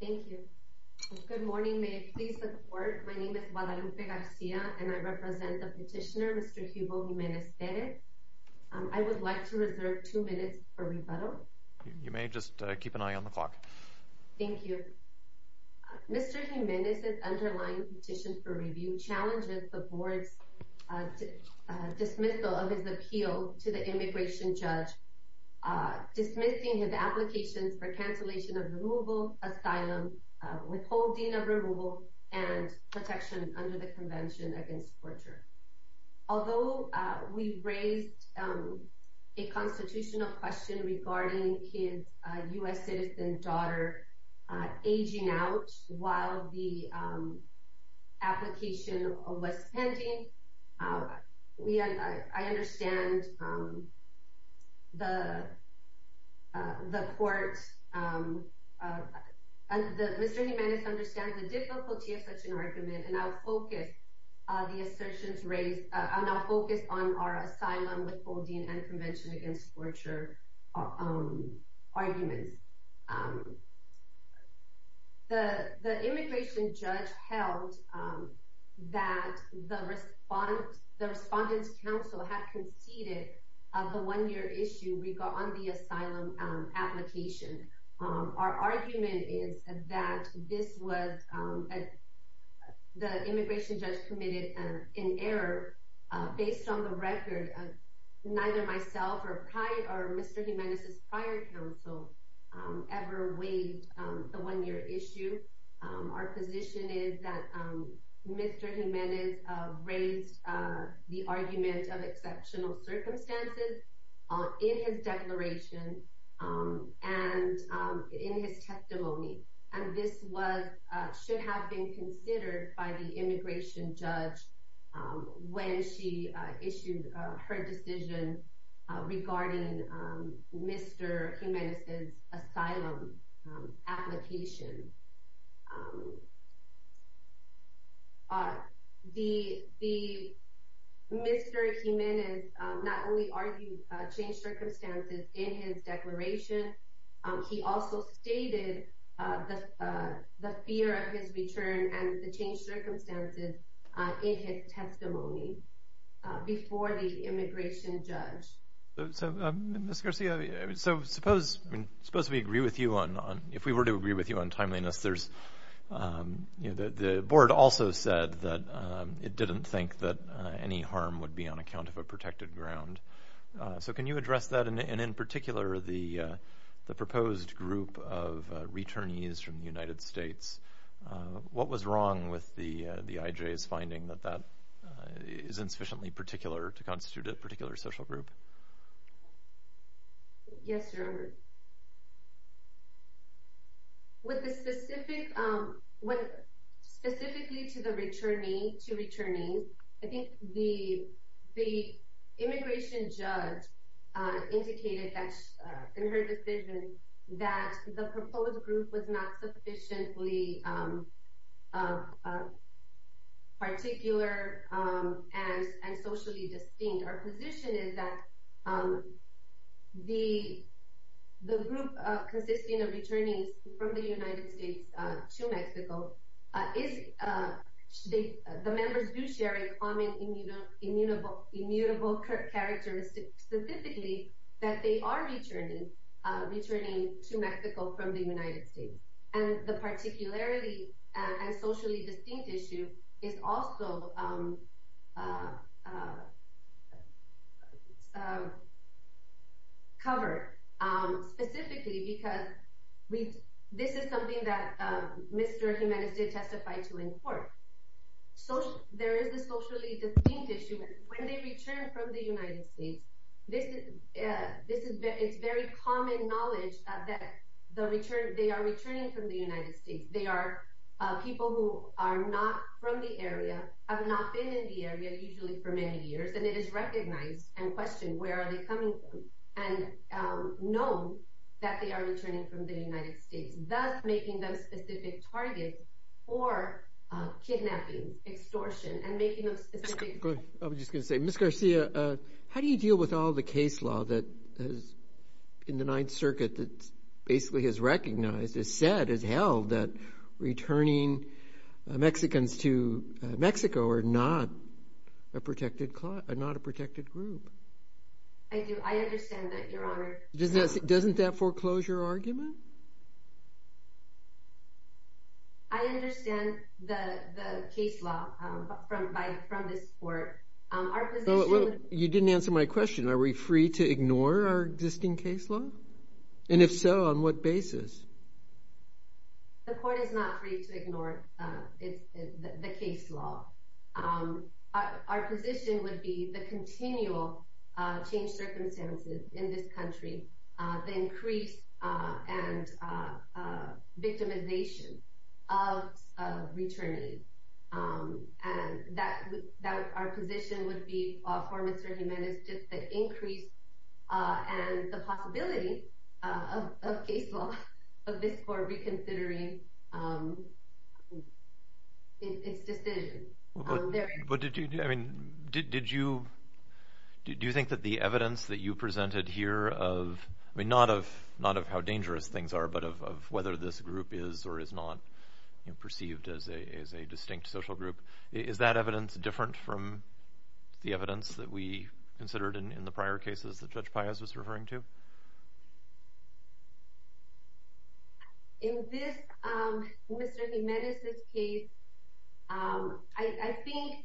Thank you. Good morning. May it please the Court, my name is Guadalupe Garcia and I represent the petitioner Mr. Hugo Jimenez-Perez. I would like to reserve two minutes for rebuttal. You may just keep an eye on the clock. Thank you. Mr. Jimenez's underlying petition for review challenges the Board's dismissal of his appeal to the immigration judge, dismissing his applications for cancellation of removal, asylum, withholding of removal, and protection under the Convention Against Torture. Although we raised a constitutional question regarding his U.S. citizen daughter aging out while the application was pending, Mr. Jimenez understands the difficulty of such an argument and I will focus on our asylum, withholding, and Convention Against Torture arguments. The immigration judge held that the Respondents' Council had conceded on the one-year issue regarding the asylum application. Our argument is that the immigration judge committed an error based on the record of neither myself or Mr. Jimenez's prior counsel ever waived the one-year issue. Our position is that Mr. Jimenez raised the argument of exceptional circumstances in his declaration and in his testimony and this should have been considered by the immigration judge when she issued her decision regarding Mr. Jimenez's asylum application. Mr. Jimenez not only argued changed circumstances in his declaration, he also stated the fear of his return and the changed circumstances in his testimony before the immigration judge. Mr. Garcia, suppose we agree with you on, if we were to agree with you on timeliness, the board also said that it didn't think that any harm would be on account of a protected ground. So can you address that and in particular the proposed group of returnees from the United States? What was wrong with the IJ's finding that that is insufficiently particular to constitute a particular social group? Yes, Your Honor. The group consisting of returnees from the United States to Mexico, the members do share a common immutable characteristic specifically that they are returning to Mexico from the United States. And the particularly and socially distinct issue is also covered specifically because this is something that Mr. Jimenez did testify to in court. There is a socially distinct issue. When they return from the United States, it's very common knowledge that they are returning from the United States. They are people who are not from the area, have not been in the area usually for many years, and it is recognized and questioned where are they coming from and known that they are returning from the United States, thus making them specific targets for kidnapping, extortion, and making them specific targets. Ms. Garcia, how do you deal with all the case law in the Ninth Circuit that basically has recognized, has said, has held that returning Mexicans to Mexico are not a protected group? I do. I understand that, Your Honor. Doesn't that foreclose your argument? I understand the case law from this court. Our position… You didn't answer my question. Are we free to ignore our existing case law? And if so, on what basis? The court is not free to ignore the case law. Our position would be the continual changed circumstances in this country, the increase and victimization of returnees. Our position would be, for Mr. Jimenez, just the increase and the possibility of case law, of this court reconsidering its decision. Do you think that the evidence that you presented here, not of how dangerous things are, but of whether this group is or is not perceived as a distinct social group, is that evidence different from the evidence that we considered in the prior cases that Judge Páez was referring to? In this, Mr. Jimenez's case, I think,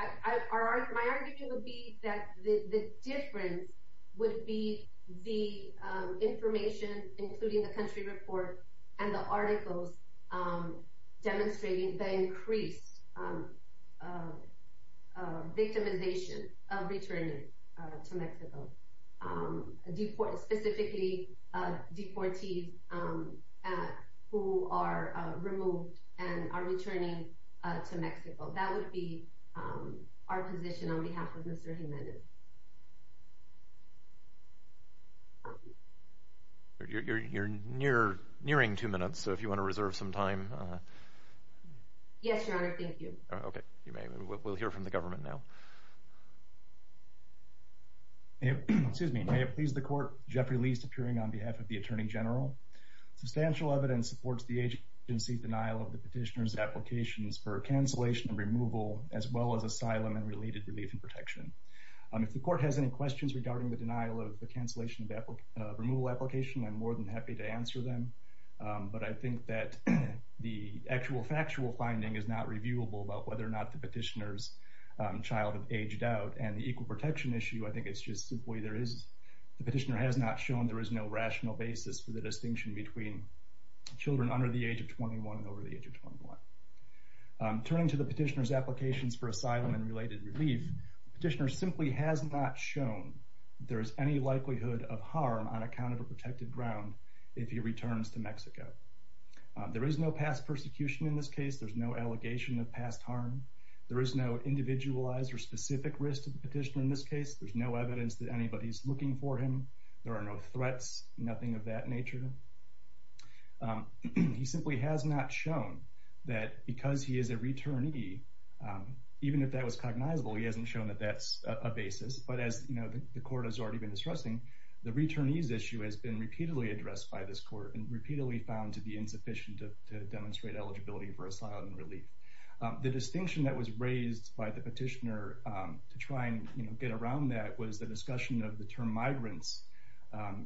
my argument would be that the difference would be the information, including the country report and the articles, demonstrating the increased victimization of returnees to Mexico. Specifically, deportees who are removed and are returning to Mexico. That would be our position on behalf of Mr. Jimenez. You're nearing two minutes, so if you want to reserve some time… Yes, Your Honor, thank you. Okay, we'll hear from the government now. May it please the court, Jeffrey Liest, appearing on behalf of the Attorney General. Substantial evidence supports the agency's denial of the petitioner's applications for cancellation and removal, as well as asylum and related relief and protection. If the court has any questions regarding the denial of the cancellation and removal application, I'm more than happy to answer them. But I think that the actual factual finding is not reviewable about whether or not the petitioner's child had aged out. And the equal protection issue, I think it's just simply there is…the petitioner has not shown there is no rational basis for the distinction between children under the age of 21 and over the age of 21. Turning to the petitioner's applications for asylum and related relief, the petitioner simply has not shown there is any likelihood of harm on account of a protected ground if he returns to Mexico. There is no past persecution in this case. There is no allegation of past harm. There is no individualized or specific risk to the petitioner in this case. There is no evidence that anybody is looking for him. There are no threats, nothing of that nature. He simply has not shown that because he is a returnee, even if that was cognizable, he hasn't shown that that's a basis. But as the court has already been discussing, the returnee's issue has been repeatedly addressed by this court and repeatedly found to be insufficient to demonstrate eligibility for asylum and relief. The distinction that was raised by the petitioner to try and get around that was the discussion of the term migrants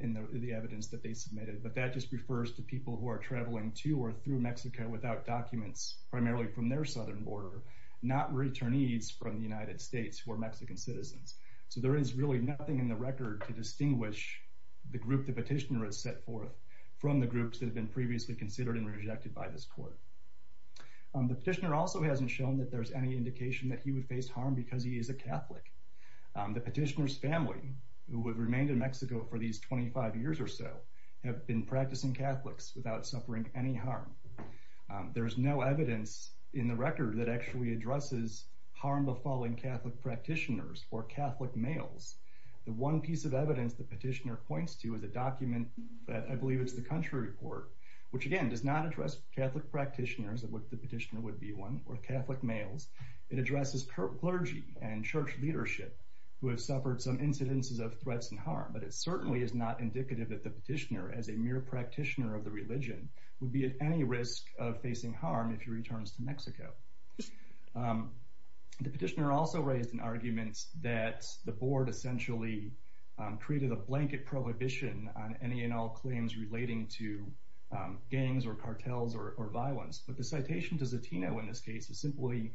in the evidence that they submitted. But that just refers to people who are traveling to or through Mexico without documents, primarily from their southern border, not returnees from the United States who are Mexican citizens. So there is really nothing in the record to distinguish the group the petitioner has set forth from the groups that have been previously considered and rejected by this court. The petitioner also hasn't shown that there's any indication that he would face harm because he is a Catholic. The petitioner's family, who have remained in Mexico for these 25 years or so, have been practicing Catholics without suffering any harm. There is no evidence in the record that actually addresses harm befalling Catholic practitioners or Catholic males. The one piece of evidence the petitioner points to is a document that I believe is the country report, which again does not address Catholic practitioners, which the petitioner would be one, or Catholic males. It addresses clergy and church leadership who have suffered some incidences of threats and harm. But it certainly is not indicative that the petitioner, as a mere practitioner of the religion, would be at any risk of facing harm if he returns to Mexico. The petitioner also raised an argument that the board essentially created a blanket prohibition on any and all claims relating to gangs or cartels or violence. But the citation to Zatino in this case is simply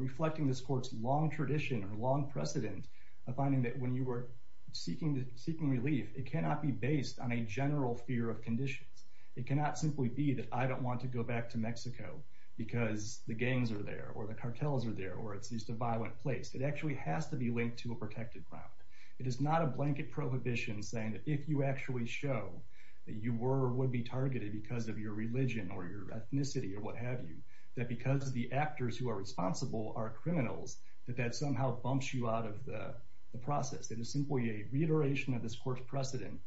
reflecting this court's long tradition or long precedent of finding that when you were seeking relief, it cannot be based on a general fear of conditions. It cannot simply be that I don't want to go back to Mexico because the gangs are there or the cartels are there or it's just a violent place. It actually has to be linked to a protected ground. It is not a blanket prohibition saying that if you actually show that you were or would be targeted because of your religion or your ethnicity or what have you, that because the actors who are responsible are criminals, that that somehow bumps you out of the process. It is simply a reiteration of this court's precedent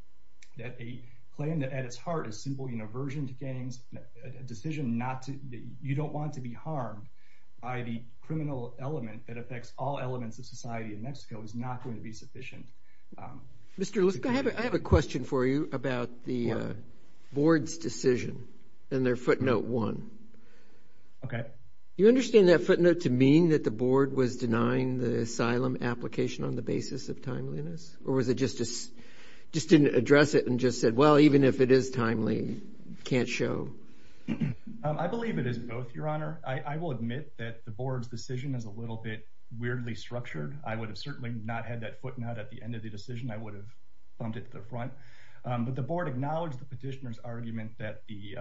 that a claim that at its heart is simply an aversion to gangs, a decision that you don't want to be harmed by the criminal element that affects all elements of society in Mexico, is not going to be sufficient. Mr. Liske, I have a question for you about the board's decision and their footnote one. Okay. Do you understand that footnote to mean that the board was denying the asylum application on the basis of timeliness? Or was it just didn't address it and just said, well, even if it is timely, can't show? I believe it is both, Your Honor. I will admit that the board's decision is a little bit weirdly structured. I would have certainly not had that footnote at the end of the decision. I would have bumped it to the front. But the board acknowledged the petitioner's argument that the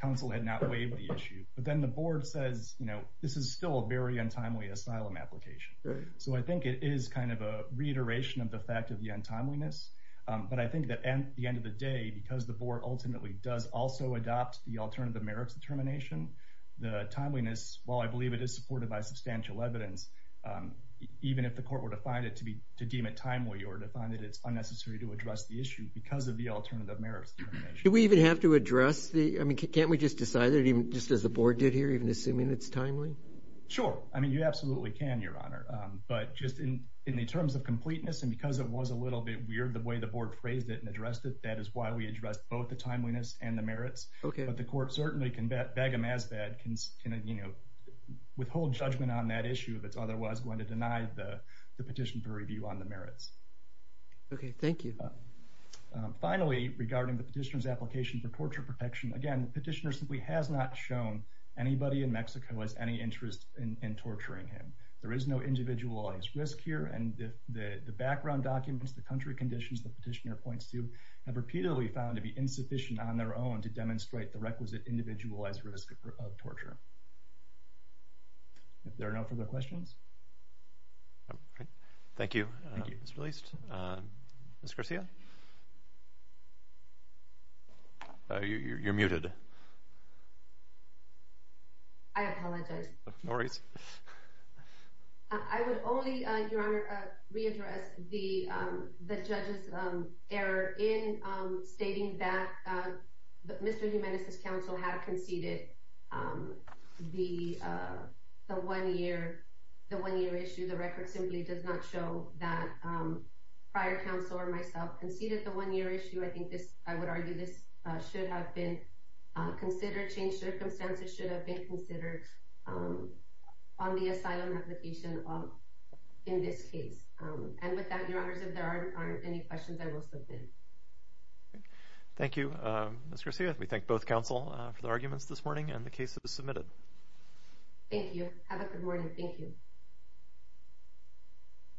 council had not waived the issue. But then the board says, you know, this is still a very untimely asylum application. So I think it is kind of a reiteration of the fact of the untimeliness. But I think that at the end of the day, because the board ultimately does also adopt the alternative merits determination, the timeliness, while I believe it is supported by substantial evidence, even if the court were to find it to be to deem it timely or to find that it's unnecessary to address the issue because of the alternative merits determination. Do we even have to address the I mean, can't we just decide that even just as the board did here, even assuming it's timely? I mean, you absolutely can, Your Honor. But just in the terms of completeness, and because it was a little bit weird the way the board phrased it and addressed it, that is why we addressed both the timeliness and the merits. But the court certainly can beg a masbad, you know, withhold judgment on that issue if it's otherwise going to deny the petition for review on the merits. Okay, thank you. Finally, regarding the petitioner's application for torture protection, again, the petitioner simply has not shown anybody in Mexico has any interest in torturing him. There is no individualized risk here. And the background documents, the country conditions the petitioner points to, have repeatedly found to be insufficient on their own to demonstrate the requisite individualized risk of torture. If there are no further questions. Thank you. It's released. You're muted. I apologize. No worries. I would only, Your Honor, readdress the judge's error in stating that Mr. Jimenez's counsel had conceded the one-year issue. The record simply does not show that prior counsel or myself conceded the one-year issue. I would argue this should have been considered, changed circumstances should have been considered on the asylum application in this case. And with that, Your Honors, if there aren't any questions, I will suspend. Thank you, Ms. Garcia. We thank both counsel for the arguments this morning and the case that was submitted. Thank you. Have a good morning. Thank you.